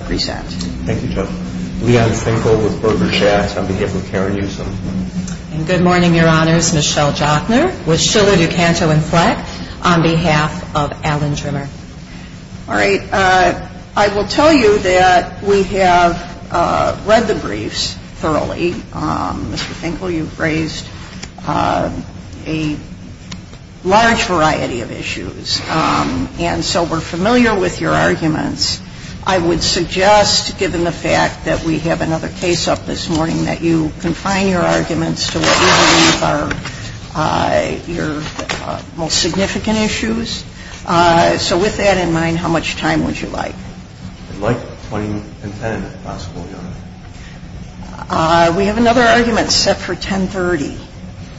All right, I will tell you that we have read the briefs thoroughly. Mr. Finkel, you've raised a large variety of issues. And so we're familiar with your arguments. I would suggest, given the fact that we have another case up this morning, that you confine your arguments to what we believe are your most significant issues. So with that in mind, how much time would you like? I'd like 20 and 10, if possible, Your Honor. We have another argument set for 1030.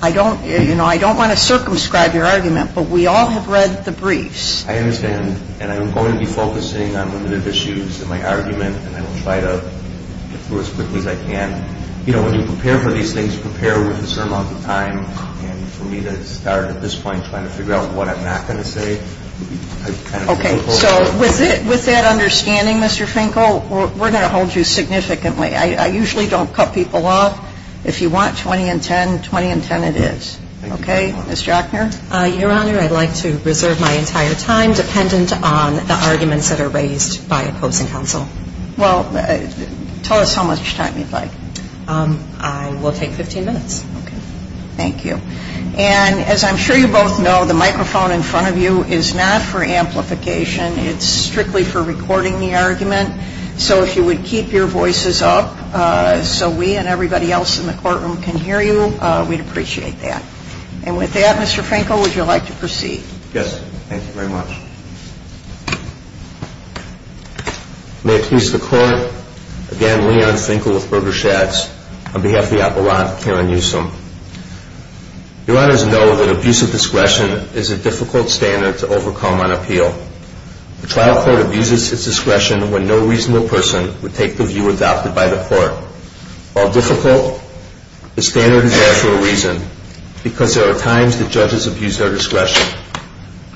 I don't, you know, I don't want to circumscribe your argument, but we all have read the briefs. I understand. And I'm going to be focusing on limited issues in my argument, and I will try to get through as quickly as I can. You know, when you prepare for these things, prepare with a certain amount of time. And for me to start at this point trying to figure out what I'm not going to say. OK, so with that understanding, Mr. Finkel, we're going to hold you significantly. I usually don't cut people off. If you want 20 and 10, 20 and 10 it is. OK, Ms. Jackner. Your Honor, I'd like to reserve my entire time dependent on the arguments that are raised by opposing counsel. Well, tell us how much time you'd like. I will take 15 minutes. Thank you. And as I'm sure you both know, the microphone in front of you is not for amplification. It's strictly for recording the argument. So if you would keep your voices up so we and everybody else in the courtroom can hear you, we'd appreciate that. And with that, Mr. Finkel, would you like to proceed? Yes. Thank you very much. May it please the Court, again, Leon Finkel with Berger-Shatz on behalf of the Appellant, Karen Newsom. Your Honors know that abuse of discretion is a difficult standard to overcome on appeal. The trial court abuses its discretion when no reasonable person would take the view adopted by the court. While difficult, the standard is there for a reason. Because there are times that judges abuse their discretion.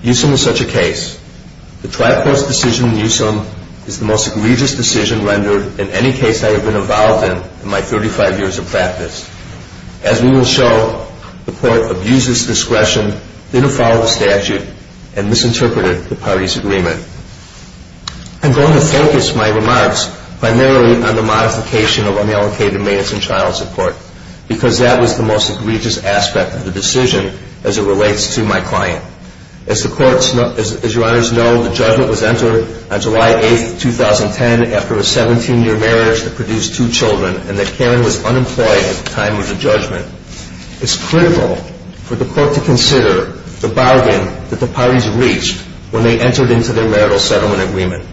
Newsom is such a case. The trial court's decision in Newsom is the most egregious decision rendered in any case I have been involved in, in my 35 years of practice. As we will show, the court abuses discretion, didn't follow the statute, and misinterpreted the party's agreement. I'm going to focus my remarks primarily on the modification of unallocated maintenance and child support. Because that was the most egregious aspect of the decision as it relates to my client. As your Honors know, the judgment was entered on July 8th, 2010 after a 17-year marriage that produced two children. And that Karen was unemployed at the time of the judgment. It's critical for the court to consider the bargain that the parties reached when they entered into their marital settlement agreement.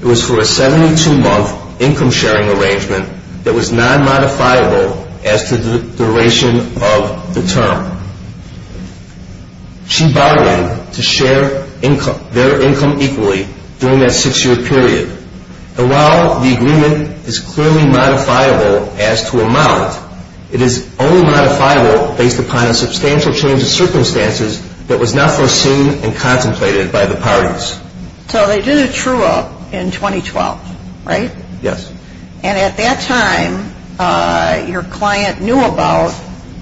It was for a 72-month income-sharing arrangement that was non-modifiable as to the duration of the term. She bargained to share their income equally during that six-year period. And while the agreement is clearly modifiable as to amount, it is only modifiable based upon a substantial change of circumstances that was not foreseen and contemplated by the parties. So they did a true-up in 2012, right? Yes. And at that time, your client knew about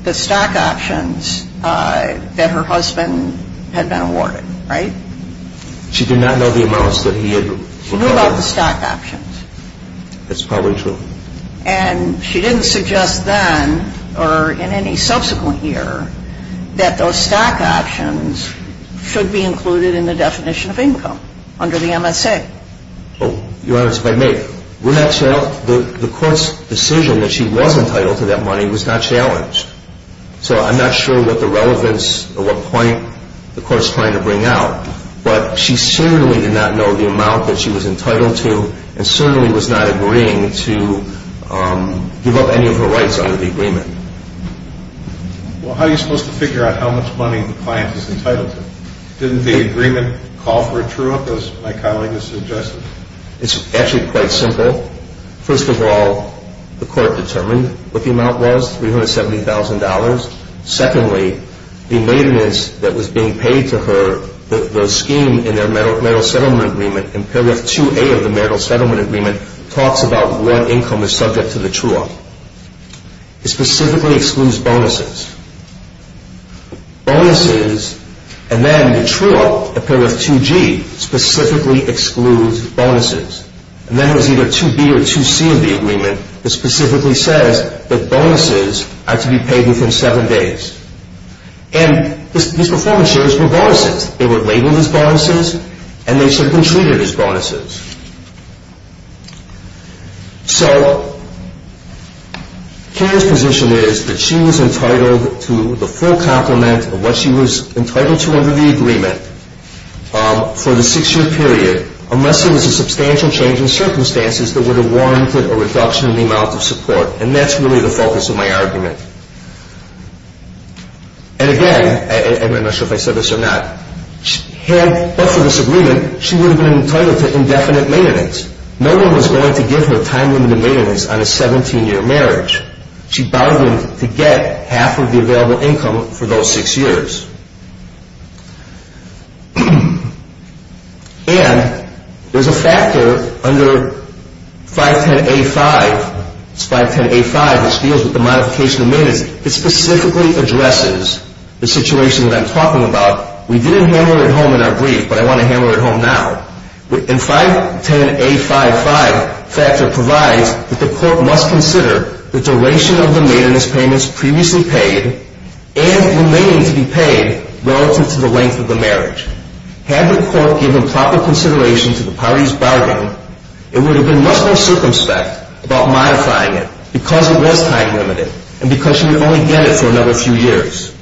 the stock options that her husband had been awarded, right? She did not know the amounts that he had recovered. She knew about the stock options. That's probably true. And she didn't suggest then or in any subsequent year that those stock options should be included in the definition of income under the MSA. Your Honor, if I may, the court's decision that she was entitled to that money was not challenged. So I'm not sure what the relevance or what point the court's trying to bring out. But she certainly did not know the amount that she was entitled to and certainly was not agreeing to give up any of her rights under the agreement. Well, how are you supposed to figure out how much money the client is entitled to? Didn't the agreement call for a true-up, as my colleague has suggested? It's actually quite simple. First of all, the court determined what the amount was, $370,000. Secondly, the maintenance that was being paid to her, the scheme in their marital settlement agreement, in Paragraph 2A of the marital settlement agreement, talks about what income is subject to the true-up. It specifically excludes bonuses. Bonuses, and then the true-up, Paragraph 2G, specifically excludes bonuses. And then there's either 2B or 2C of the agreement that specifically says that bonuses are to be paid within seven days. And these performance shares were bonuses. They were labeled as bonuses and they should have been treated as bonuses. So Karen's position is that she was entitled to the full complement of what she was entitled to under the agreement for the six-year period unless there was a substantial change in circumstances that would have warranted a reduction in the amount of support, and that's really the focus of my argument. And again, and I'm not sure if I said this or not, but for this agreement, she would have been entitled to indefinite maintenance. No one was going to give her time-limited maintenance on a 17-year marriage. She bargained to get half of the available income for those six years. And there's a factor under 510A5. It's 510A5, which deals with the modification of maintenance. It specifically addresses the situation that I'm talking about. We didn't handle it at home in our brief, but I want to handle it at home now. And 510A55 provides that the court must consider the duration of the maintenance payments previously paid and remaining to be paid relative to the length of the marriage. Had the court given proper consideration to the parties' bargain, it would have been much more circumspect about modifying it because it was time-limited and because she would only get it for another few years.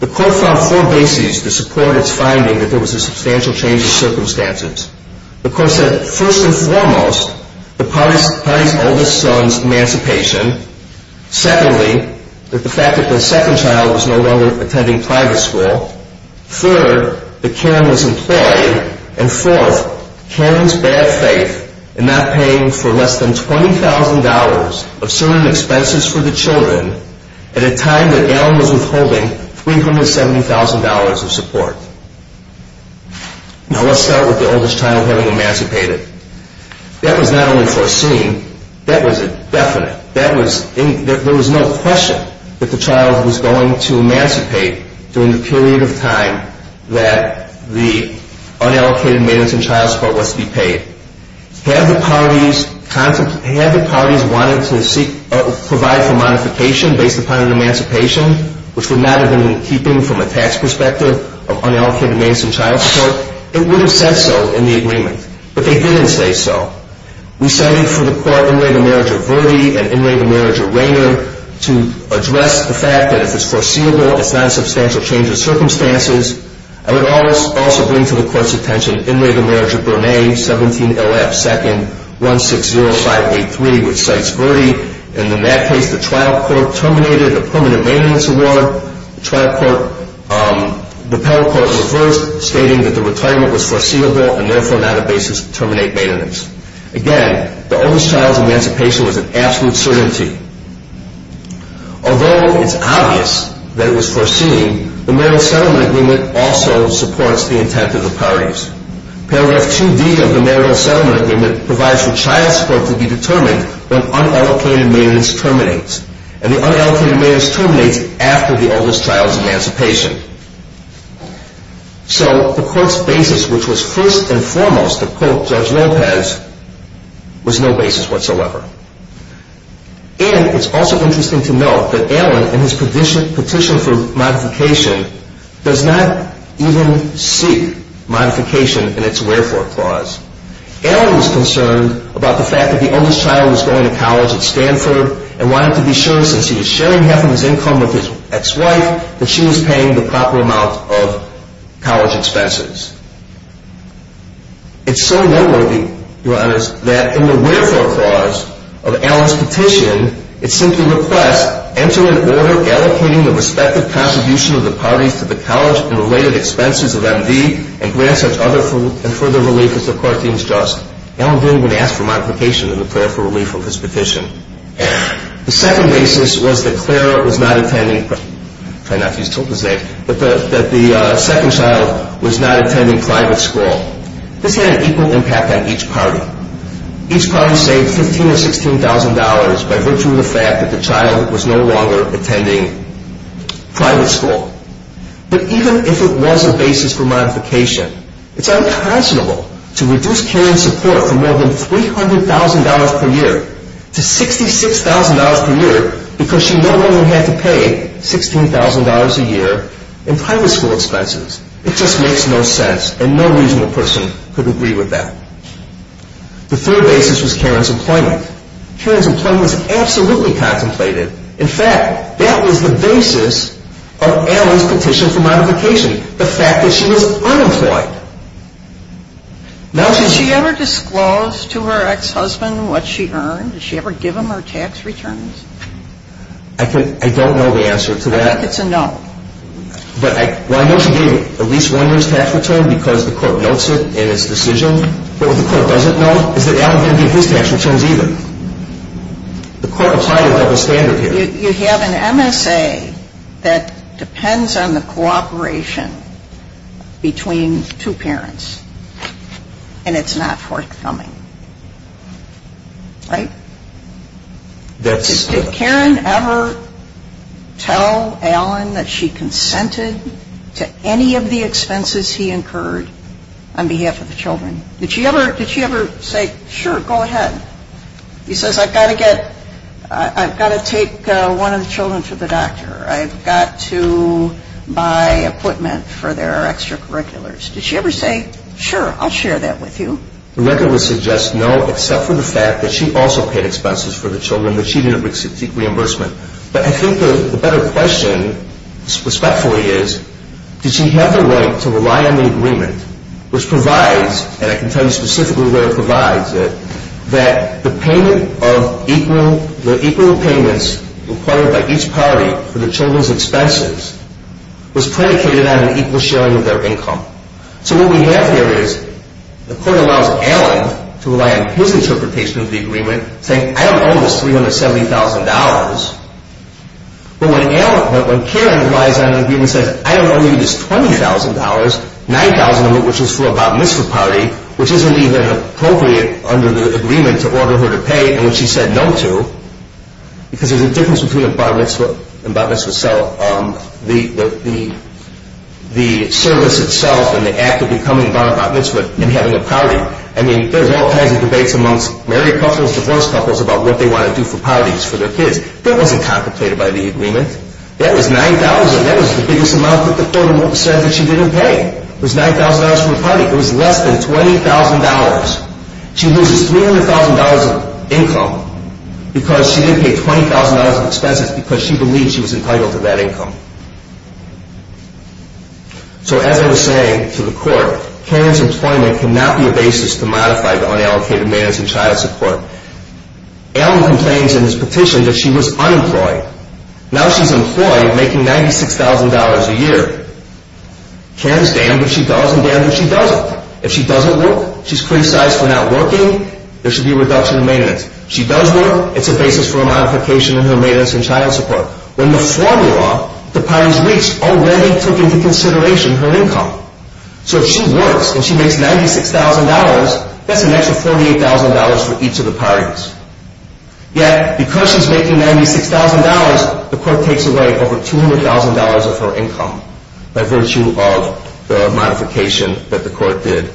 The court found four bases to support its finding that there was a substantial change in circumstances. The court said, first and foremost, the parties' oldest son's emancipation. Secondly, that the fact that the second child was no longer attending private school. Third, that Karen was employed. And fourth, Karen's bad faith in not paying for less than $20,000 of certain expenses for the children at a time that Alan was withholding $370,000 of support. Now let's start with the oldest child having emancipated. That was not only foreseen, that was definite. There was no question that the child was going to emancipate during the period of time that the unallocated maintenance and child support was to be paid. Had the parties wanted to provide for modification based upon an emancipation, which would not have been in keeping from a tax perspective of unallocated maintenance and child support, it would have said so in the agreement. But they didn't say so. We cited for the court in reign of marriage of Verde and in reign of marriage of Rainer to address the fact that if it's foreseeable, it's not a substantial change of circumstances. I would also bring to the court's attention in reign of marriage of Burnet, 17LF, 2nd, 160583, which cites Verde. And in that case, the trial court terminated a permanent maintenance award. The trial court, the panel court reversed, stating that the retirement was foreseeable and therefore not a basis to terminate maintenance. Again, the oldest child's emancipation was an absolute certainty. Although it's obvious that it was foreseen, the marital settlement agreement also supports the intent of the parties. Paragraph 2D of the marital settlement agreement provides for child support to be determined when unallocated maintenance terminates. And the unallocated maintenance terminates after the oldest child's emancipation. So the court's basis, which was first and foremost to quote Judge Lopez, was no basis whatsoever. And it's also interesting to note that Allen, in his petition for modification, does not even seek modification in its wherefore clause. Allen was concerned about the fact that the oldest child was going to college at Stanford and wanted to be sure, since he was sharing half of his income with his ex-wife, that she was paying the proper amount of college expenses. It's so noteworthy, Your Honors, that in the wherefore clause of Allen's petition, it simply requests, enter an order allocating the respective contribution of the parties to the college and related expenses of MD and grant such other and further relief as the court deems just. Allen didn't even ask for modification in the prayer for relief of his petition. The second basis was that Clara was not attending, I'll try not to use tilde save, but that the second child was not attending private school. This had an equal impact on each party. Each party saved $15,000 or $16,000 by virtue of the fact that the child was no longer attending private school. But even if it was a basis for modification, it's unconscionable to reduce Karen's support from more than $300,000 per year to $66,000 per year because she no longer had to pay $16,000 a year in private school expenses. It just makes no sense and no reasonable person could agree with that. The third basis was Karen's employment. Karen's employment was absolutely contemplated. In fact, that was the basis of Allen's petition for modification, the fact that she was unemployed. Now, did she ever disclose to her ex-husband what she earned? Did she ever give him her tax returns? I don't know the answer to that. I think it's a no. Well, I know she gave him at least one year's tax return because the court notes it in its decision, but what the court doesn't know is that Allen didn't give his tax returns either. The court applied a double standard here. You have an MSA that depends on the cooperation between two parents, and it's not forthcoming. Right? Did Karen ever tell Allen that she consented to any of the expenses he incurred on behalf of the children? Did she ever say, sure, go ahead? He says, I've got to take one of the children to the doctor. I've got to buy equipment for their extracurriculars. Did she ever say, sure, I'll share that with you? The record would suggest no, except for the fact that she also paid expenses for the children, but she didn't receive reimbursement. But I think the better question, respectfully, is did she have the right to rely on the agreement, which provides, and I can tell you specifically where it provides it, that the equal payments required by each party for the children's expenses was predicated on an equal sharing of their income. So what we have here is the court allows Allen to rely on his interpretation of the agreement, saying, I don't owe this $370,000. But when Karen relies on an agreement and says, I don't owe you this $20,000, $9,000 of it, which is for a botanistic party, which isn't even appropriate under the agreement to order her to pay, and which she said no to, because there's a difference between a botanist and a botanist herself. The service itself and the act of becoming a botanist and having a party, I mean, there's all kinds of debates amongst married couples, divorced couples, about what they want to do for parties for their kids. That wasn't contemplated by the agreement. That was $9,000. That was the biggest amount that the court said that she didn't pay. It was $9,000 for a party. It was less than $20,000. She loses $300,000 of income because she didn't pay $20,000 of expenses because she believed she was entitled to that income. So as I was saying to the court, Karen's employment cannot be a basis to modify the unallocated man's and child's support. Allen complains in his petition that she was unemployed. Now she's employed, making $96,000 a year. Karen's damned if she doesn't, damned if she doesn't. If she doesn't work, she's criticized for not working. There should be a reduction in maintenance. If she does work, it's a basis for a modification in her maintenance and child support. When the formula the parties reached already took into consideration her income. So if she works and she makes $96,000, that's an extra $48,000 for each of the parties. Yet because she's making $96,000, the court takes away over $200,000 of her income by virtue of the modification that the court did.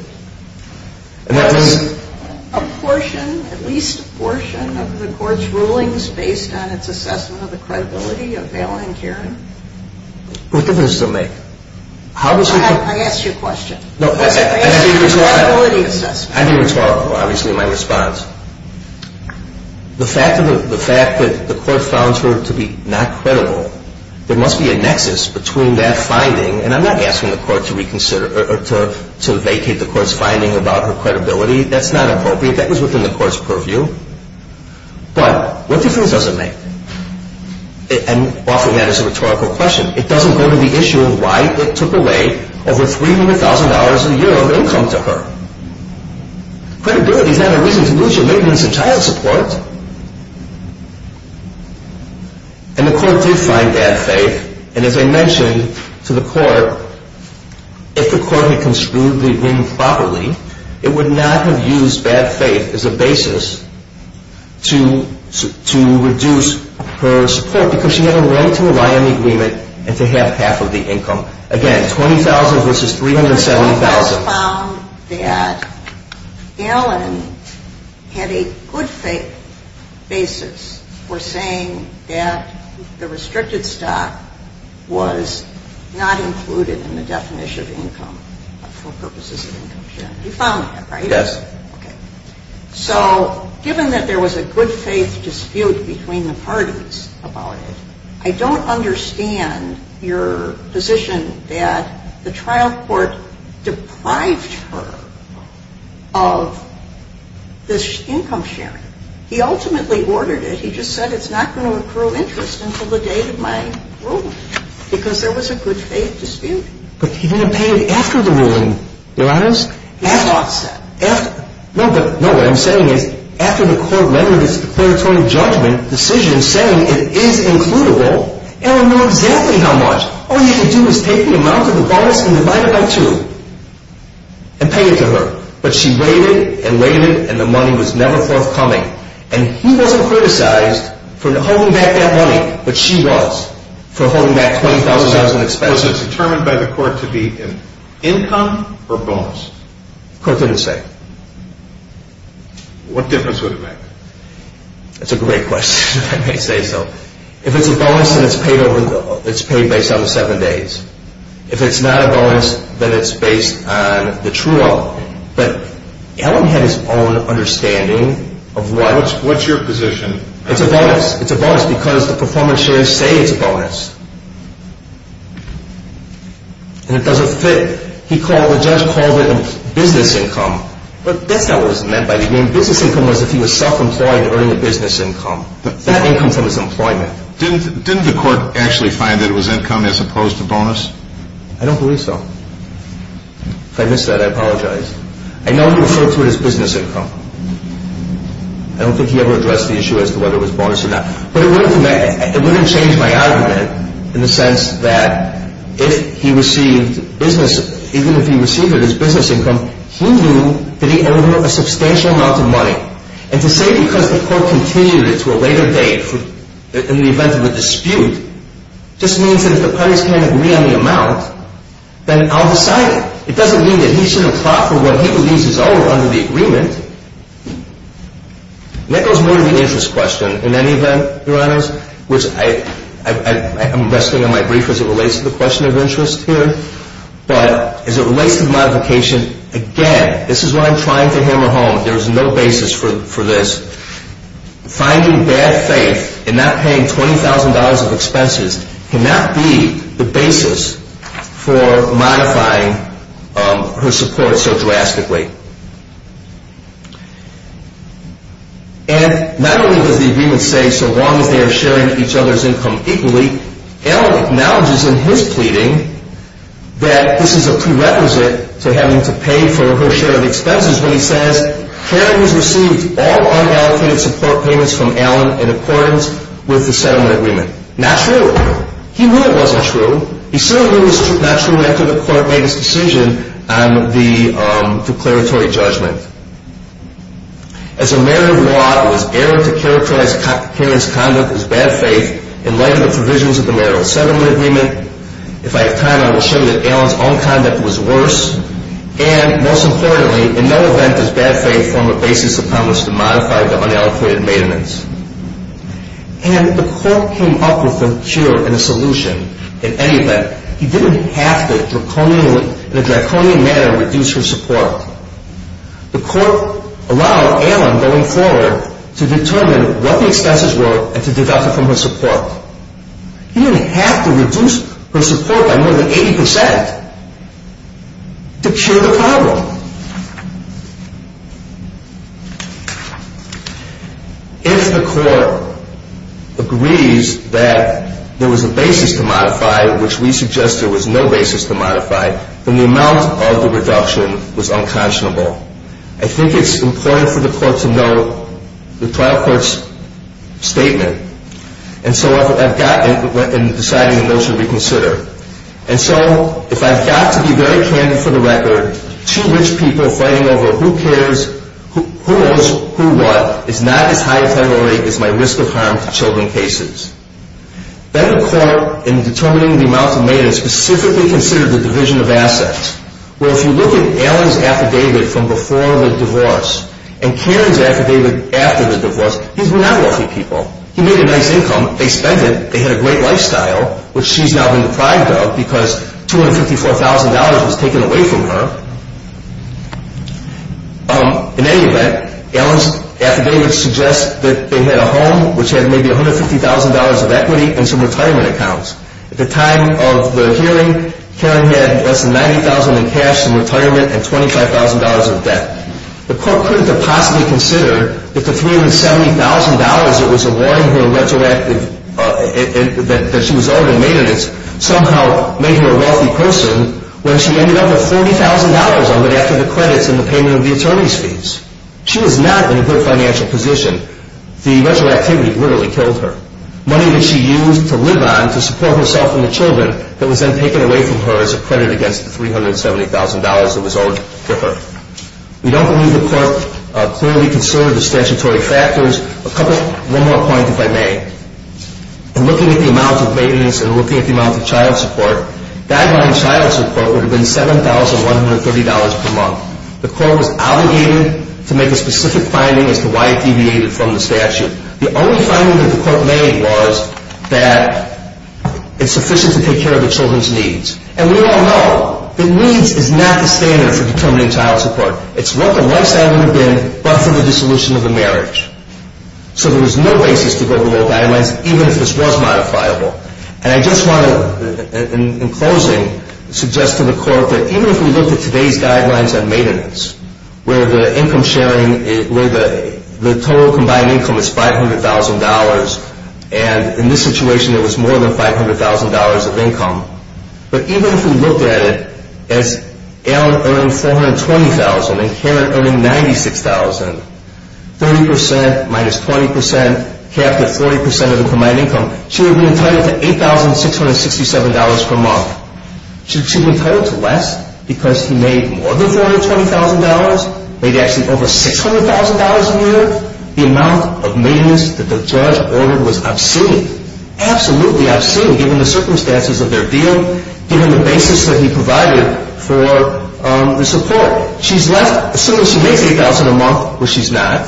Was a portion, at least a portion, of the court's rulings based on its assessment of the credibility of Allen and Karen? What difference does it make? I asked you a question. No, I didn't respond. I didn't respond to, obviously, my response. The fact that the court found her to be not credible, there must be a nexus between that finding, and I'm not asking the court to vacate the court's finding about her credibility. That's not appropriate. That was within the court's purview. But what difference does it make? And often that is a rhetorical question. It doesn't go to the issue of why it took away over $300,000 a year of income to her. Credibility is not a reason to lose your maintenance and child support. And the court did find bad faith. And as I mentioned to the court, if the court had construed the agreement properly, it would not have used bad faith as a basis to reduce her support because she had a right to rely on the agreement and to have half of the income. Again, $20,000 versus $370,000. The court also found that Allen had a good faith basis for saying that the restricted stock was not included in the definition of income for purposes of income sharing. You found that, right? Yes. Okay. So given that there was a good faith dispute between the parties about it, I don't understand your position that the trial court deprived her of this income sharing. He ultimately ordered it. He just said it's not going to accrue interest until the date of my ruling because there was a good faith dispute. But he didn't pay it after the ruling, Your Honors. He did not say. No, but what I'm saying is after the court rendered its declaratory judgment decision saying it is includable, Allen knew exactly how much. All you had to do was take the amount of the bonus and divide it by two and pay it to her. But she waited and waited and the money was never forthcoming. And he wasn't criticized for holding back that money, but she was for holding back $20,000 in expenses. Was it determined by the court to be income or bonus? The court didn't say. What difference would it make? That's a great question, if I may say so. If it's a bonus, then it's paid based on the seven days. If it's not a bonus, then it's based on the true amount. But Allen had his own understanding of what. What's your position? It's a bonus. It's a bonus because the performance sharers say it's a bonus. And it doesn't fit. The judge called it a business income. But that's not what was meant by the game. The business income was if he was self-employed, earning a business income. That income's on his employment. Didn't the court actually find that it was income as opposed to bonus? I don't believe so. If I missed that, I apologize. I know he referred to it as business income. I don't think he ever addressed the issue as to whether it was bonus or not. But it wouldn't change my argument in the sense that if he received business, even if he received it as business income, he knew that he owed him a substantial amount of money. And to say because the court continued it to a later date in the event of a dispute just means that if the parties can't agree on the amount, then I'll decide it. It doesn't mean that he should have fought for what he believes is owed under the agreement. And that goes more to the interest question in any event, Your Honors, which I'm resting on my brief as it relates to the question of interest here. But as it relates to the modification, again, this is what I'm trying to hammer home. There is no basis for this. Finding bad faith in not paying $20,000 of expenses cannot be the basis for modifying her support so drastically. And not only does the agreement say so long as they are sharing each other's income equally, Allen acknowledges in his pleading that this is a prerequisite to having to pay for her share of expenses when he says Karen has received all unallocated support payments from Allen in accordance with the settlement agreement. Not true. He knew it wasn't true. He still knew it was not true after the court made its decision on the declaratory judgment. As a matter of law, it was error to characterize Karen's conduct as bad faith in light of the provisions of the marital settlement agreement. If I have time, I will show that Allen's own conduct was worse. And most importantly, in no event does bad faith form a basis upon which to modify the unallocated maintenance. And the court came up with a cure and a solution in any event. He didn't have to in a draconian manner reduce her support. The court allowed Allen going forward to determine what the expenses were and to deduct it from her support. He didn't have to reduce her support by more than 80 percent to cure the problem. If the court agrees that there was a basis to modify, which we suggest there was no basis to modify, then the amount of the reduction was unconscionable. I think it's important for the court to know the trial court's statement. And so I've got in deciding the notion to reconsider. And so if I've got to be very candid for the record, two rich people fighting over who cares, who knows who what, is not as high a federal rate as my risk of harm to children cases. Then the court, in determining the amount of maintenance, specifically considered the division of assets. Well, if you look at Allen's affidavit from before the divorce and Karen's affidavit after the divorce, these were not wealthy people. He made a nice income. They spent it. They had a great lifestyle, which she's now been deprived of because $254,000 was taken away from her. In any event, Allen's affidavit suggests that they had a home, which had maybe $150,000 of equity, and some retirement accounts. At the time of the hearing, Karen had less than $90,000 in cash, some retirement, and $25,000 of debt. The court couldn't have possibly considered if the $370,000 that she was owed in maintenance somehow made her a wealthy person when she ended up with $40,000 of it after the credits and the payment of the attorney's fees. She was not in a good financial position. The measure of activity literally killed her. Money that she used to live on to support herself and the children that was then taken away from her as a credit against the $370,000 that was owed to her. We don't believe the court clearly considered the statutory factors. One more point, if I may. In looking at the amount of maintenance and looking at the amount of child support, guideline child support would have been $7,130 per month. The court was obligated to make a specific finding as to why it deviated from the statute. The only finding that the court made was that it's sufficient to take care of the children's needs. And we all know that needs is not the standard for determining child support. It's what the lifestyle would have been but for the dissolution of the marriage. So there was no basis to go below guidelines even if this was modifiable. And I just want to, in closing, suggest to the court that even if we looked at today's guidelines on maintenance where the income sharing, where the total combined income is $500,000 and in this situation it was more than $500,000 of income, but even if we looked at it as Ellen earning $420,000 and Karen earning $96,000, 30% minus 20% capped at 40% of the combined income, she would be entitled to $8,667 per month. She would be entitled to less because he made more than $420,000, made actually over $600,000 a year. The amount of maintenance that the judge ordered was obscene, absolutely obscene, given the circumstances of their deal, given the basis that he provided for the support. So she's left, assuming she makes $8,000 a month, which she's not,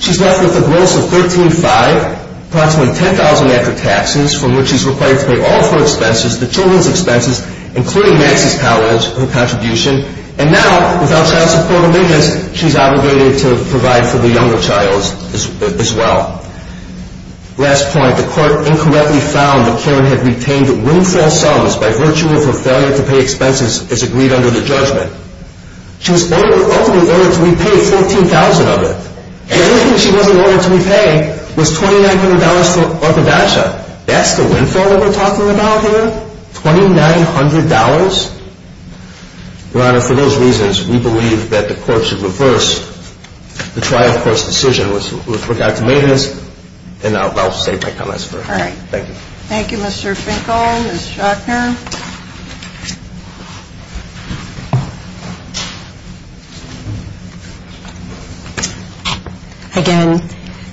she's left with a gross of $13,500, approximately $10,000 after taxes from which she's required to pay all of her expenses, the children's expenses, including Max's college, her contribution, and now without child support amendments she's obligated to provide for the younger child as well. Last point, the court incorrectly found that Karen had retained windfall sums by virtue of her failure to pay expenses as agreed under the judgment. She was ultimately ordered to repay $14,000 of it. The only thing she wasn't ordered to repay was $2,900 for orthodontia. That's the windfall that we're talking about here? $2,900? Your Honor, for those reasons, we believe that the court should reverse the trial court's decision with regard to maintenance, and I'll save my comments for later. All right. Thank you. Thank you, Mr. Finkel. Ms. Jochner? Again,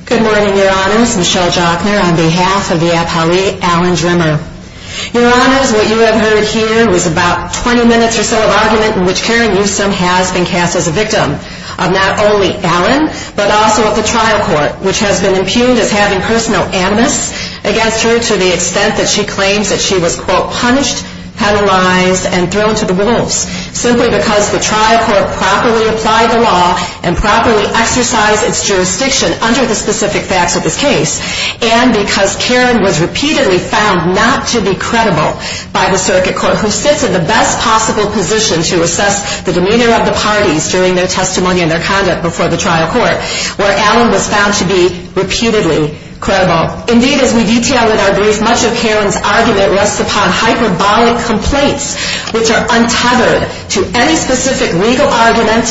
good morning, Your Honors. Michelle Jochner on behalf of the appellee, Alan Drimmer. Your Honors, what you have heard here was about 20 minutes or so of argument in which Karen Newsom has been cast as a victim of not only Alan, but also of the trial court, which has been impugned as having personal animus against her to the extent that she claims that she was, quote, punished, penalized, and thrown to the wolves, simply because the trial court properly applied the law and properly exercised its jurisdiction under the specific facts of this case, and because Karen was repeatedly found not to be credible by the circuit court, who sits in the best possible position to assess the demeanor of the parties during their testimony and their conduct before the trial court, where Alan was found to be repeatedly credible. Indeed, as we detail in our brief, much of Karen's argument rests upon hyperbolic complaints, which are untethered to any specific legal argument,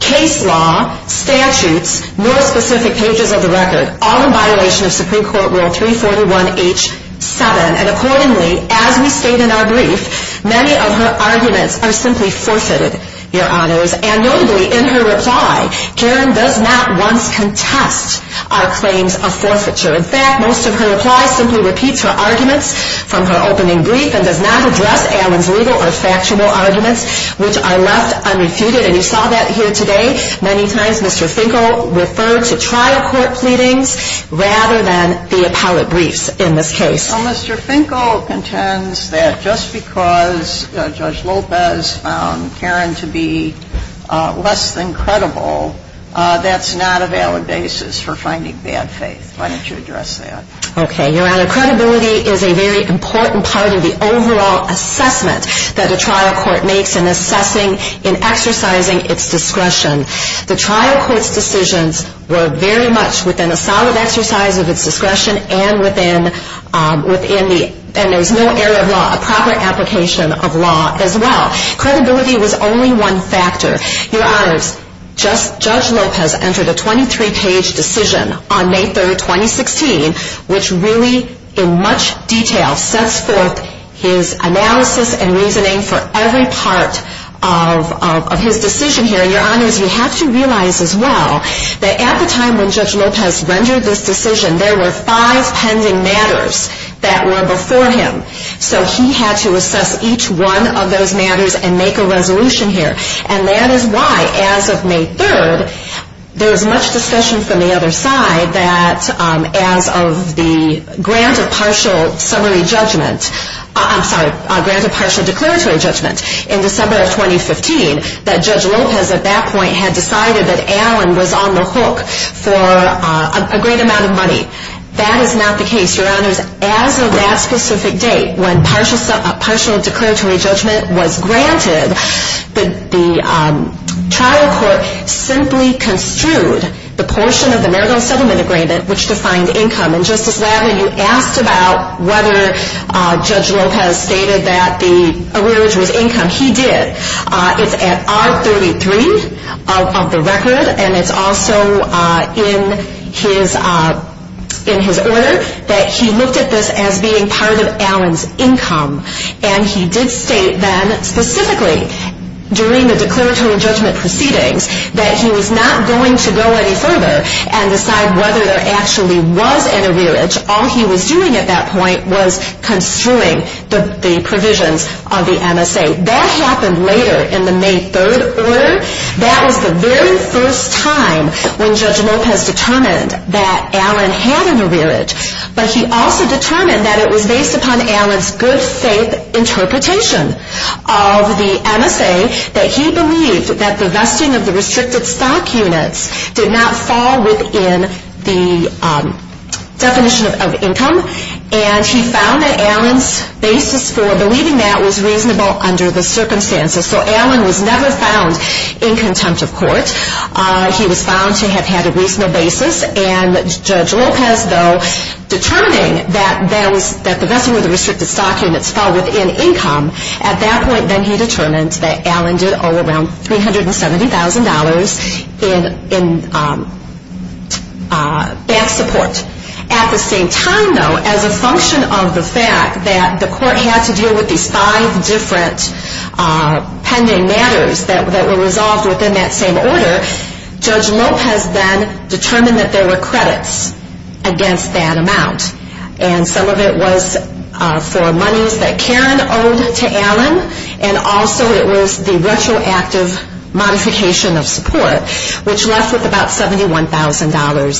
case law, statutes, nor specific pages of the record, all in violation of Supreme Court Rule 341H7. And accordingly, as we state in our brief, many of her arguments are simply forfeited, Your Honors, and notably in her reply, Karen does not once contest our claims of forfeiture. In fact, most of her reply simply repeats her arguments from her opening brief and does not address Alan's legal or factual arguments, which are left unrefuted. And you saw that here today. Many times Mr. Finkel referred to trial court pleadings rather than the appellate briefs in this case. Well, Mr. Finkel contends that just because Judge Lopez found Karen to be less than Okay, Your Honor, credibility is a very important part of the overall assessment that a trial court makes in assessing and exercising its discretion. The trial court's decisions were very much within a solid exercise of its discretion and there was no error of law, a proper application of law as well. Credibility was only one factor. Your Honors, Judge Lopez entered a 23-page decision on May 3, 2016, which really in much detail sets forth his analysis and reasoning for every part of his decision here. And Your Honors, you have to realize as well that at the time when Judge Lopez rendered this decision, there were five pending matters that were before him. So he had to assess each one of those matters and make a resolution here. And that is why as of May 3, there was much discussion from the other side that as of the grant of partial summary judgment, I'm sorry, grant of partial declaratory judgment in December of 2015, that Judge Lopez at that point had decided that Allen was on the hook for a great amount of money. That is not the case, Your Honors. As of that specific date, when partial declaratory judgment was granted, the trial court simply construed the portion of the marital settlement agreement which defined income. And Justice Latimer, you asked about whether Judge Lopez stated that the arrearage was income. He did. It's at R33 of the record, and it's also in his order that he looked at this as being part of Allen's income. And he did state then specifically during the declaratory judgment proceedings that he was not going to go any further and decide whether there actually was an arrearage. All he was doing at that point was construing the provisions of the MSA. That happened later in the May 3 order. That was the very first time when Judge Lopez determined that Allen had an arrearage. But he also determined that it was based upon Allen's good faith interpretation of the MSA that he believed that the vesting of the restricted stock units did not fall within the definition of income. And he found that Allen's basis for believing that was reasonable under the circumstances. So Allen was never found in contempt of court. He was found to have had a reasonable basis. And Judge Lopez, though, determining that the vesting of the restricted stock units fell within income, at that point then he determined that Allen did owe around $370,000 in back support. At the same time, though, as a function of the fact that the court had to deal with these five different pending matters that were resolved within that same order, Judge Lopez then determined that there were credits against that amount. And some of it was for monies that Karen owed to Allen, and also it was the retroactive modification of support, which left with about $71,000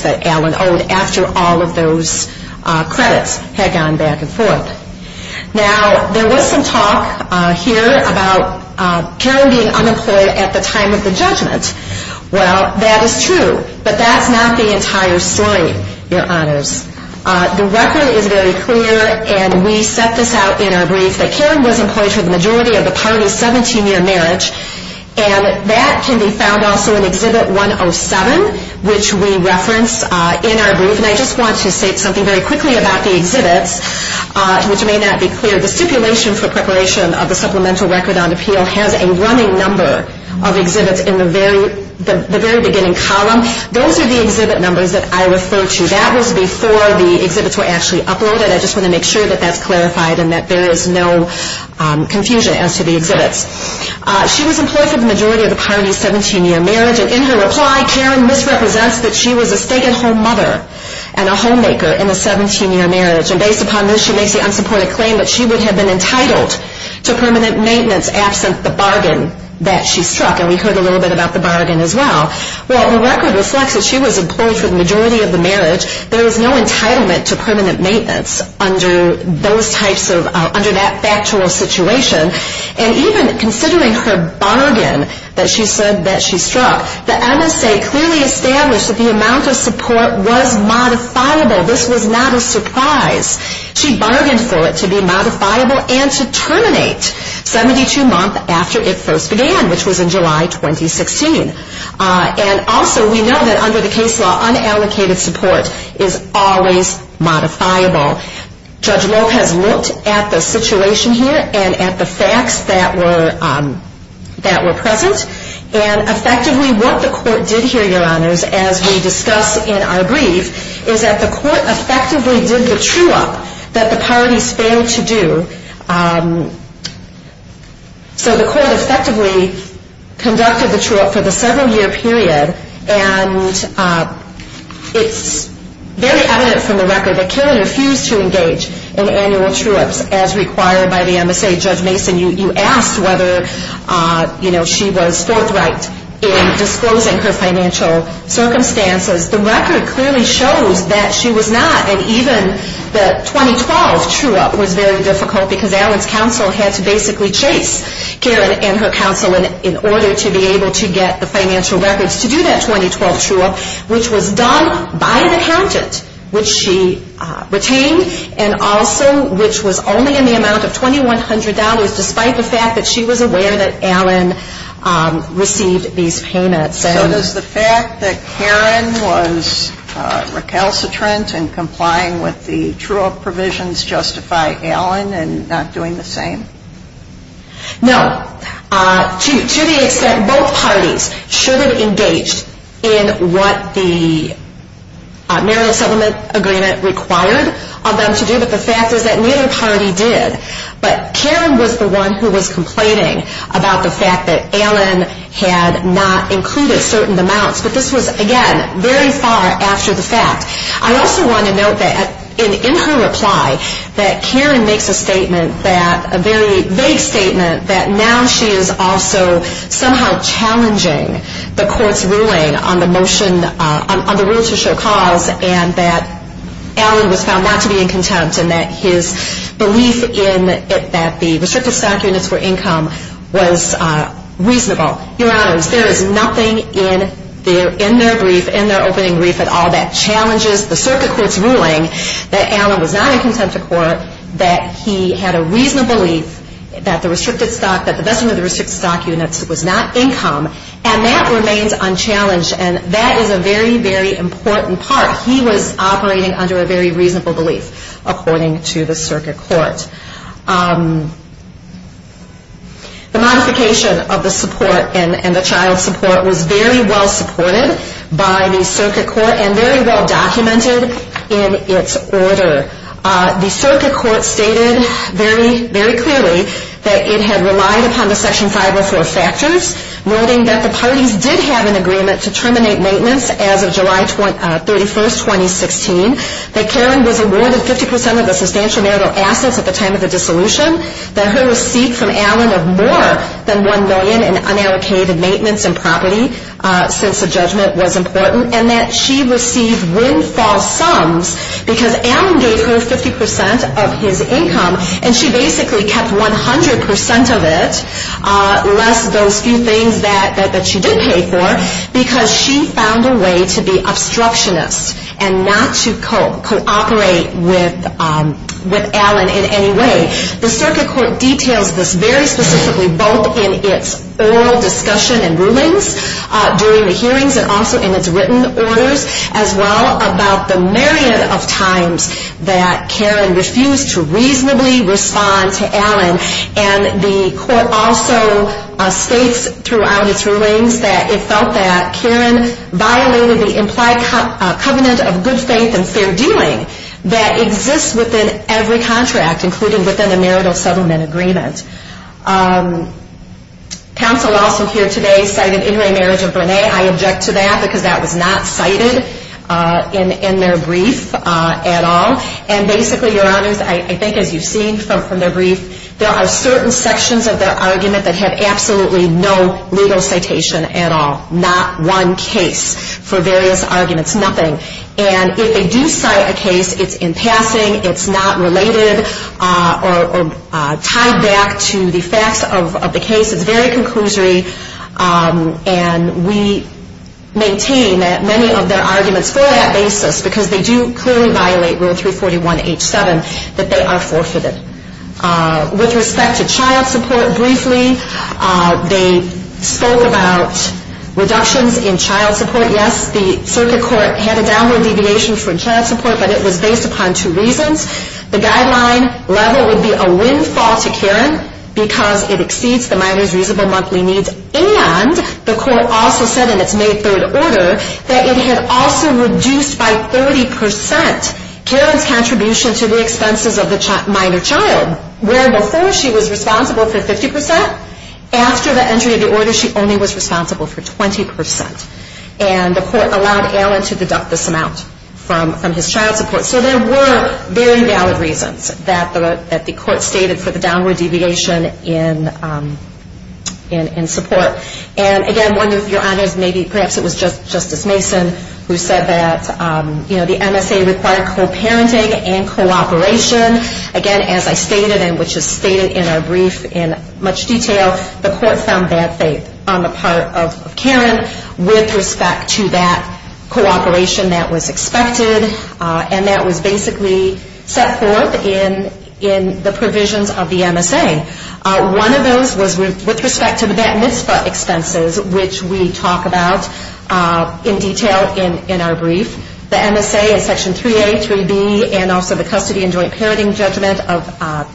that Allen owed after all of those credits had gone back and forth. Now, there was some talk here about Karen being unemployed at the time of the judgment. Well, that is true. But that's not the entire story, Your Honors. The record is very clear, and we set this out in our brief, that Karen was employed for the majority of the party's 17-year marriage. And that can be found also in Exhibit 107, which we reference in our brief. And I just want to state something very quickly about the exhibits, which may not be clear. The stipulation for preparation of the supplemental record on appeal has a running number of exhibits in the very beginning column. Those are the exhibit numbers that I refer to. That was before the exhibits were actually uploaded. I just want to make sure that that's clarified and that there is no confusion as to the exhibits. She was employed for the majority of the party's 17-year marriage. And in her reply, Karen misrepresents that she was a stay-at-home mother and a homemaker in a 17-year marriage. And based upon this, she makes the unsupported claim that she would have been entitled to permanent maintenance absent the bargain that she struck. And we heard a little bit about the bargain as well. Well, the record reflects that she was employed for the majority of the marriage. There was no entitlement to permanent maintenance under that factual situation. And even considering her bargain that she said that she struck, the MSA clearly established that the amount of support was modifiable. This was not a surprise. She bargained for it to be modifiable and to terminate 72 months after it first began, which was in July 2016. And also, we know that under the case law, unallocated support is always modifiable. Judge Lopez looked at the situation here and at the facts that were present. And effectively, what the court did here, Your Honors, as we discuss in our brief, is that the court effectively did the true-up that the parties failed to do. So the court effectively conducted the true-up for the several-year period. And it's very evident from the record that Karen refused to engage in annual true-ups as required by the MSA. Judge Mason, you asked whether she was forthright in disclosing her financial circumstances. The record clearly shows that she was not. And even the 2012 true-up was very difficult because Allen's counsel had to basically chase Karen and her counsel in order to be able to get the financial records to do that 2012 true-up, which was done by an accountant, which she retained, and also which was only in the amount of $2,100 despite the fact that she was aware that Allen received these payments. So does the fact that Karen was recalcitrant in complying with the true-up provisions justify Allen in not doing the same? No. To the extent both parties should have engaged in what the marriage settlement agreement required of them to do. But the fact is that neither party did. But Karen was the one who was complaining about the fact that Allen had not included certain amounts. But this was, again, very far after the fact. I also want to note that in her reply that Karen makes a statement that, a very long time, she is also somehow challenging the court's ruling on the motion on the rule to show cause and that Allen was found not to be in contempt and that his belief in that the restricted stock units were income was reasonable. Your Honors, there is nothing in their brief, in their opening brief at all, that challenges the circuit court's ruling that Allen was not in contempt of court, that he had a reasonable belief that the best of the restricted stock units was not income, and that remains unchallenged. And that is a very, very important part. He was operating under a very reasonable belief, according to the circuit court. The modification of the support and the child support was very well supported by the circuit court and very well documented in its order. The circuit court stated very clearly that it had relied upon the Section 504 factors, noting that the parties did have an agreement to terminate maintenance as of July 31, 2016, that Karen was awarded 50% of the substantial marital assets at the time of the dissolution, that her receipt from Allen of more than $1 million in unallocated maintenance and property since the judgment was 50% of his income, and she basically kept 100% of it, less those few things that she did pay for, because she found a way to be obstructionist and not to cooperate with Allen in any way. The circuit court details this very specifically both in its oral discussion and rulings during the hearings and also in its written orders, as well about the million of times that Karen refused to reasonably respond to Allen. And the court also states throughout its rulings that it felt that Karen violated the implied covenant of good faith and fair dealing that exists within every contract, including within the marital settlement agreement. Counsel also here today cited in remarriage of Brene. I object to that because that was not cited in their brief at all. And basically, Your Honors, I think as you've seen from their brief, there are certain sections of their argument that have absolutely no legal citation at all, not one case for various arguments, nothing. And if they do cite a case, it's in passing, it's not related or tied back to the maintain many of their arguments for that basis because they do clearly violate Rule 341H7 that they are forfeited. With respect to child support, briefly, they spoke about reductions in child support. Yes, the circuit court had a downward deviation for child support, but it was based upon two reasons. The guideline level would be a windfall to Karen because it exceeds the minor's reasonable monthly needs, and the court also said in its May 3rd order that it had also reduced by 30% Karen's contribution to the expenses of the minor child, where before she was responsible for 50%. After the entry of the order, she only was responsible for 20%. And the court allowed Alan to deduct this amount from his child support. So there were very valid reasons that the court stated for the downward deviation in support. And again, one of your honors, maybe perhaps it was Justice Mason who said that the MSA required co-parenting and cooperation. Again, as I stated, and which is stated in our brief in much detail, the court found bad faith on the part of Karen with respect to that cooperation that was One of those was with respect to the bat mitzvah expenses, which we talk about in detail in our brief. The MSA is Section 3A, 3B, and also the custody and joint parenting judgment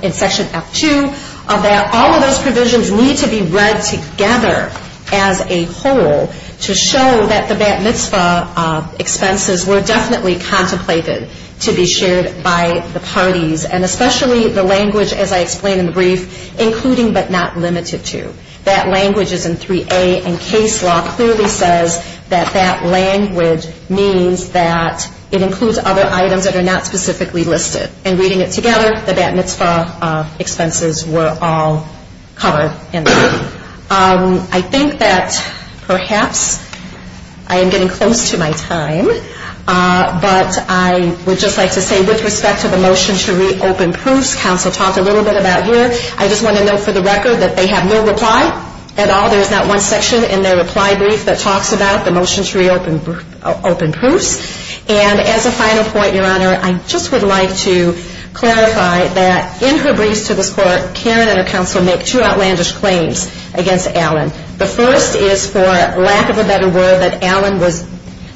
in Section F2. All of those provisions need to be read together as a whole to show that the bat mitzvah expenses were definitely contemplated to be shared by the parties. And especially the language, as I explained in the brief, including but not limited to. That language is in 3A, and case law clearly says that that language means that it includes other items that are not specifically listed. And reading it together, the bat mitzvah expenses were all covered in there. I think that perhaps I am getting close to my time, but I would just like to say with respect to the motion to reopen proofs, counsel talked a little bit about here. I just want to note for the record that they have no reply at all. There is not one section in their reply brief that talks about the motion to reopen proofs. And as a final point, Your Honor, I just would like to clarify that in her briefs to this court, Karen and her counsel make two outlandish claims against Allen. The first is, for lack of a better word, that Allen was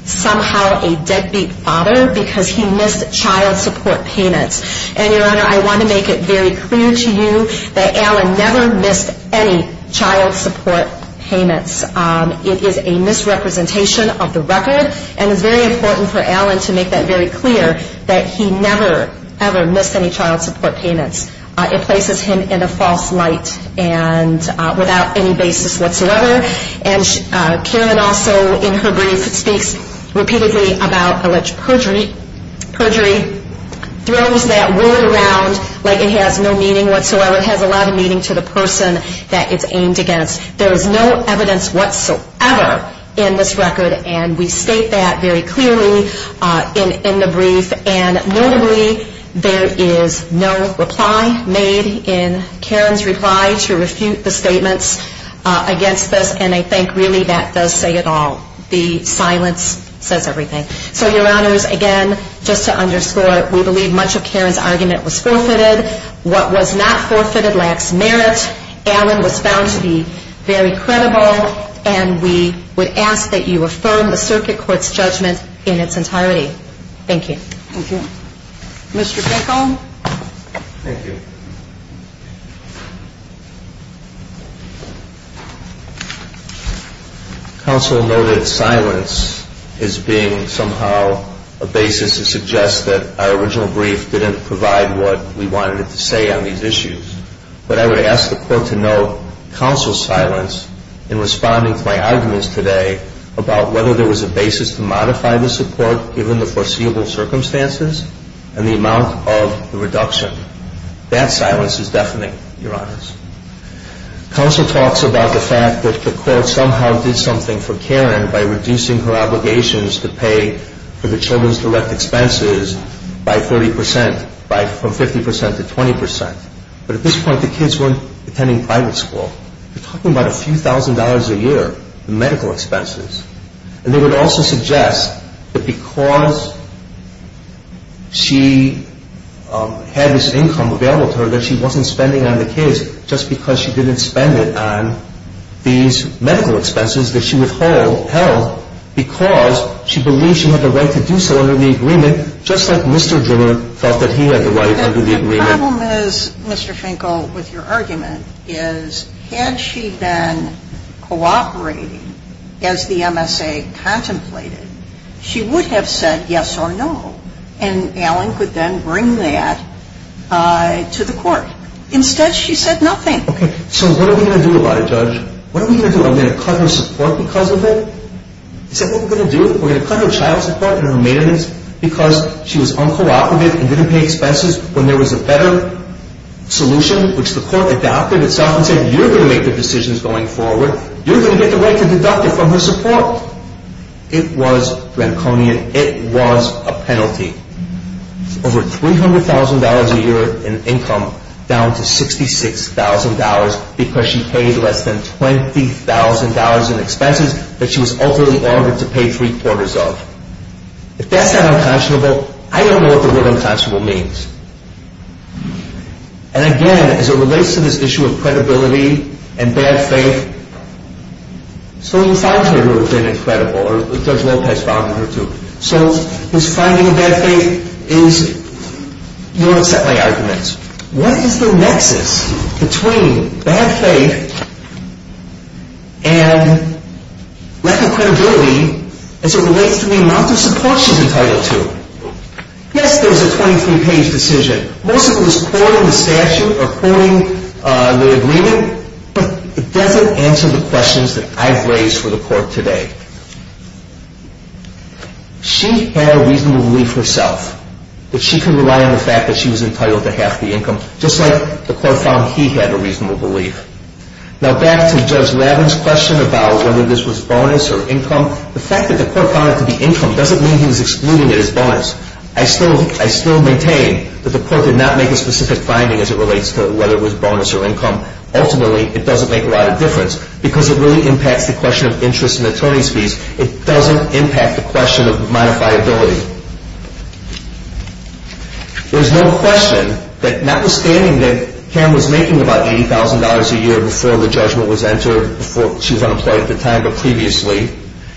somehow a deadbeat father because he missed child support payments. And, Your Honor, I want to make it very clear to you that Allen never missed any child support payments. It is a misrepresentation of the record, and it's very important for Allen to make that very clear that he never, ever missed any child support payments. It places him in a false light and without any basis whatsoever. And Karen also, in her brief, speaks repeatedly about alleged perjury, throws that word around like it has no meaning whatsoever. It has a lot of meaning to the person that it's aimed against. There is no evidence whatsoever in this record, and we state that very clearly in the brief. And notably, there is no reply made in Karen's reply to refute the statements against this, and I think really that does say it all. The silence says everything. So, Your Honors, again, just to underscore, we believe much of Karen's argument was forfeited. What was not forfeited lacks merit. Allen was found to be very credible, and we would ask that you affirm the Circuit Court's judgment in its entirety. Thank you. Thank you. Mr. Finkel? Thank you. Counsel noted silence as being somehow a basis to suggest that our original brief didn't provide what we wanted it to say on these issues. But I would ask the Court to note counsel's silence in responding to my arguments today about whether there was a basis to modify the support given the foreseeable circumstances and the amount of the reduction. That silence is deafening, Your Honors. Counsel talks about the fact that the Court somehow did something for Karen by reducing her obligations to pay for the children's direct expenses by 30 percent, from 50 percent to 20 percent. But at this point, the kids weren't attending private school. You're talking about a few thousand dollars a year in medical expenses. And they would also suggest that because she had this income available to her that she wasn't spending on the kids just because she didn't spend it on these medical expenses that she withheld because she believed she had the right to do so under the agreement, just like Mr. Drimmer felt that he had the right under the agreement. The problem is, Mr. Finkel, with your argument, is had she been cooperating as the MSA contemplated, she would have said yes or no. And Alan could then bring that to the Court. Instead, she said nothing. Okay. So what are we going to do about it, Judge? What are we going to do? Are we going to cut her support because of it? Is that what we're going to do? We're going to cut her child support and her maintenance because she was uncooperative and didn't pay expenses when there was a better solution, which the Court adopted itself and said, you're going to make the decisions going forward. You're going to get the right to deduct it from her support. It was draconian. It was a penalty. Over $300,000 a year in income down to $66,000 because she paid less than $20,000 in expenses that she was ultimately ordered to pay three-quarters of. If that's not unconscionable, I don't know what the word unconscionable means. And again, as it relates to this issue of credibility and bad faith, so you found her to have been incredible, or Judge Lopez found her to. So his finding of bad faith is, you don't accept my arguments. What is the nexus between bad faith and lack of credibility as it relates to the amount of support she's entitled to? Yes, there was a 23-page decision. Most of it was quoting the statute or quoting the agreement, but it doesn't answer the questions that I've raised for the Court today. She had a reasonable belief herself that she could rely on the fact that she was entitled to half the income, just like the Court found he had a reasonable belief. Now back to Judge Lavin's question about whether this was bonus or income. The fact that the Court found it to be income doesn't mean he was excluding it as bonus. I still maintain that the Court did not make a specific finding as it relates to whether it was bonus or income. Ultimately, it doesn't make a lot of difference because it really impacts the question of interest and attorney's fees. It doesn't impact the question of modifiability. There's no question that notwithstanding that Cam was making about $80,000 a year before the judgment was entered, before she was unemployed at the time, but previously,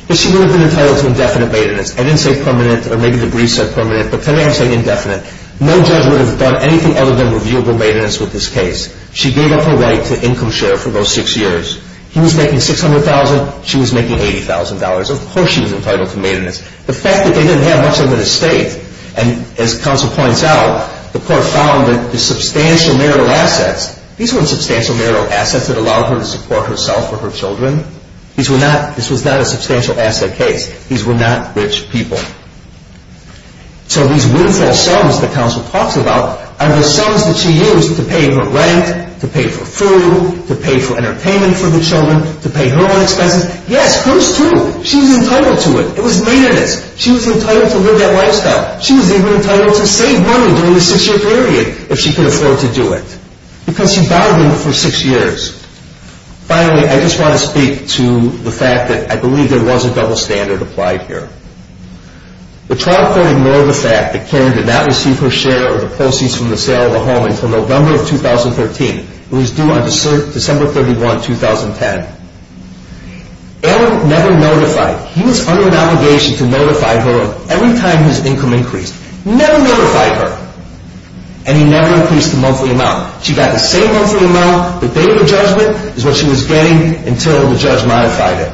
that she would have been entitled to indefinite maintenance. I didn't say permanent, or maybe the brief said permanent, but today I'm saying indefinite. No judge would have done anything other than reviewable maintenance with this case. She gave up her right to income share for those six years. He was making $600,000, she was making $80,000. Of course she was entitled to maintenance. The fact that they didn't have much of an estate, and as counsel points out, the Court found that the substantial marital assets, these weren't substantial marital assets that allowed her to support herself or her children. This was not a substantial asset case. These were not rich people. So these windfall sums that counsel talks about are the sums that she used to pay her rent, to pay for food, to pay for entertainment for the children, to pay her own expenses. Yes, hers too. She was entitled to it. It was maintenance. She was entitled to live that lifestyle. She was even entitled to save money during the six-year period, if she could afford to do it, because she bargained for six years. Finally, I just want to speak to the fact that I believe there was a double standard applied here. The trial court ignored the fact that Karen did not receive her share of the proceeds from the sale of the home until November of 2013. It was due on December 31, 2010. Alan never notified. He was under an obligation to notify her every time his income increased. Never notified her. And he never increased the monthly amount. She got the same monthly amount. The date of the judgment is what she was getting until the judge modified it.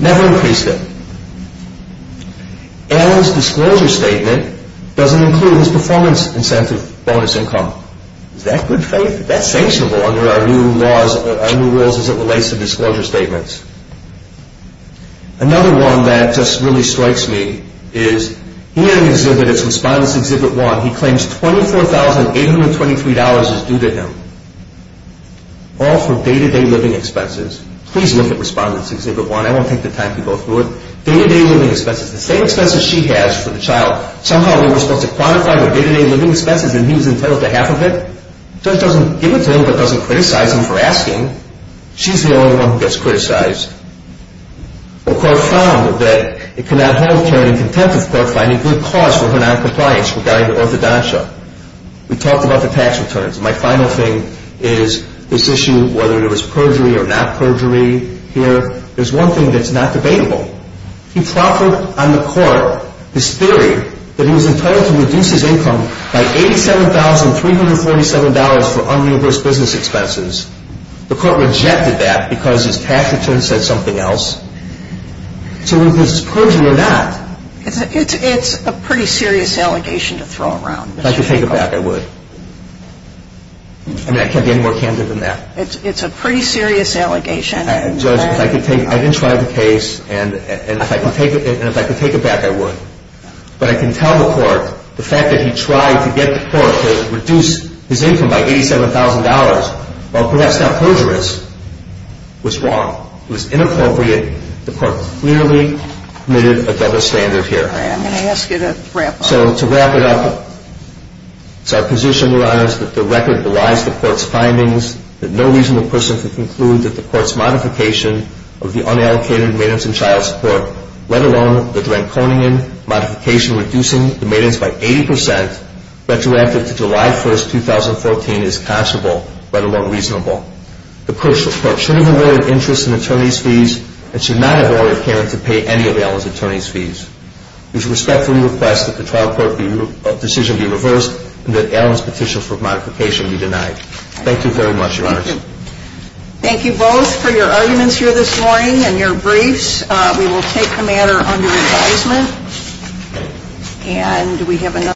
Never increased it. Alan's disclosure statement doesn't include his performance incentive bonus income. Is that good faith? That's sanctionable under our new laws, our new rules as it relates to disclosure statements. Another one that just really strikes me is he had an exhibit. It's Respondents Exhibit 1. He claims $24,823 is due to him, all for day-to-day living expenses. Please look at Respondents Exhibit 1. I won't take the time to go through it. Day-to-day living expenses. The same expenses she has for the child. Somehow they were supposed to quantify their day-to-day living expenses, and he was entitled to half of it. The judge doesn't give it to him but doesn't criticize him for asking. She's the only one who gets criticized. The court found that it cannot hold Karen in contempt of the court finding good cause for her noncompliance regarding the orthodontia. We talked about the tax returns. My final thing is this issue whether there was perjury or not perjury here. There's one thing that's not debatable. He proffered on the court this theory that he was entitled to reduce his income by $87,347 for unreimbursed business expenses. The court rejected that because his tax return said something else. So whether this is perjury or not. It's a pretty serious allegation to throw around. If I could take it back, I would. I mean, I can't be any more candid than that. It's a pretty serious allegation. Judge, I didn't try the case, and if I could take it back, I would. But I can tell the court the fact that he tried to get the court to reduce his income by $87,000, while perhaps not perjurous, was wrong. It was inappropriate. The court clearly committed a double standard here. I'm going to ask you to wrap up. So to wrap it up, it's our position, Your Honors, that the record belies the court's findings, that no reasonable person can conclude that the court's modification of the unallocated maintenance and child support, let alone the Dranconian modification reducing the maintenance by 80%, retroactive to July 1, 2014, is considerable, let alone reasonable. The court should have avoided interest in attorney's fees and should not have avoided caring to pay any of Allen's attorney's fees. We respectfully request that the trial court decision be reversed and that Allen's petition for modification be denied. Thank you very much, Your Honors. Thank you. Thank you both for your arguments here this morning and your briefs. We will take the matter under advisement.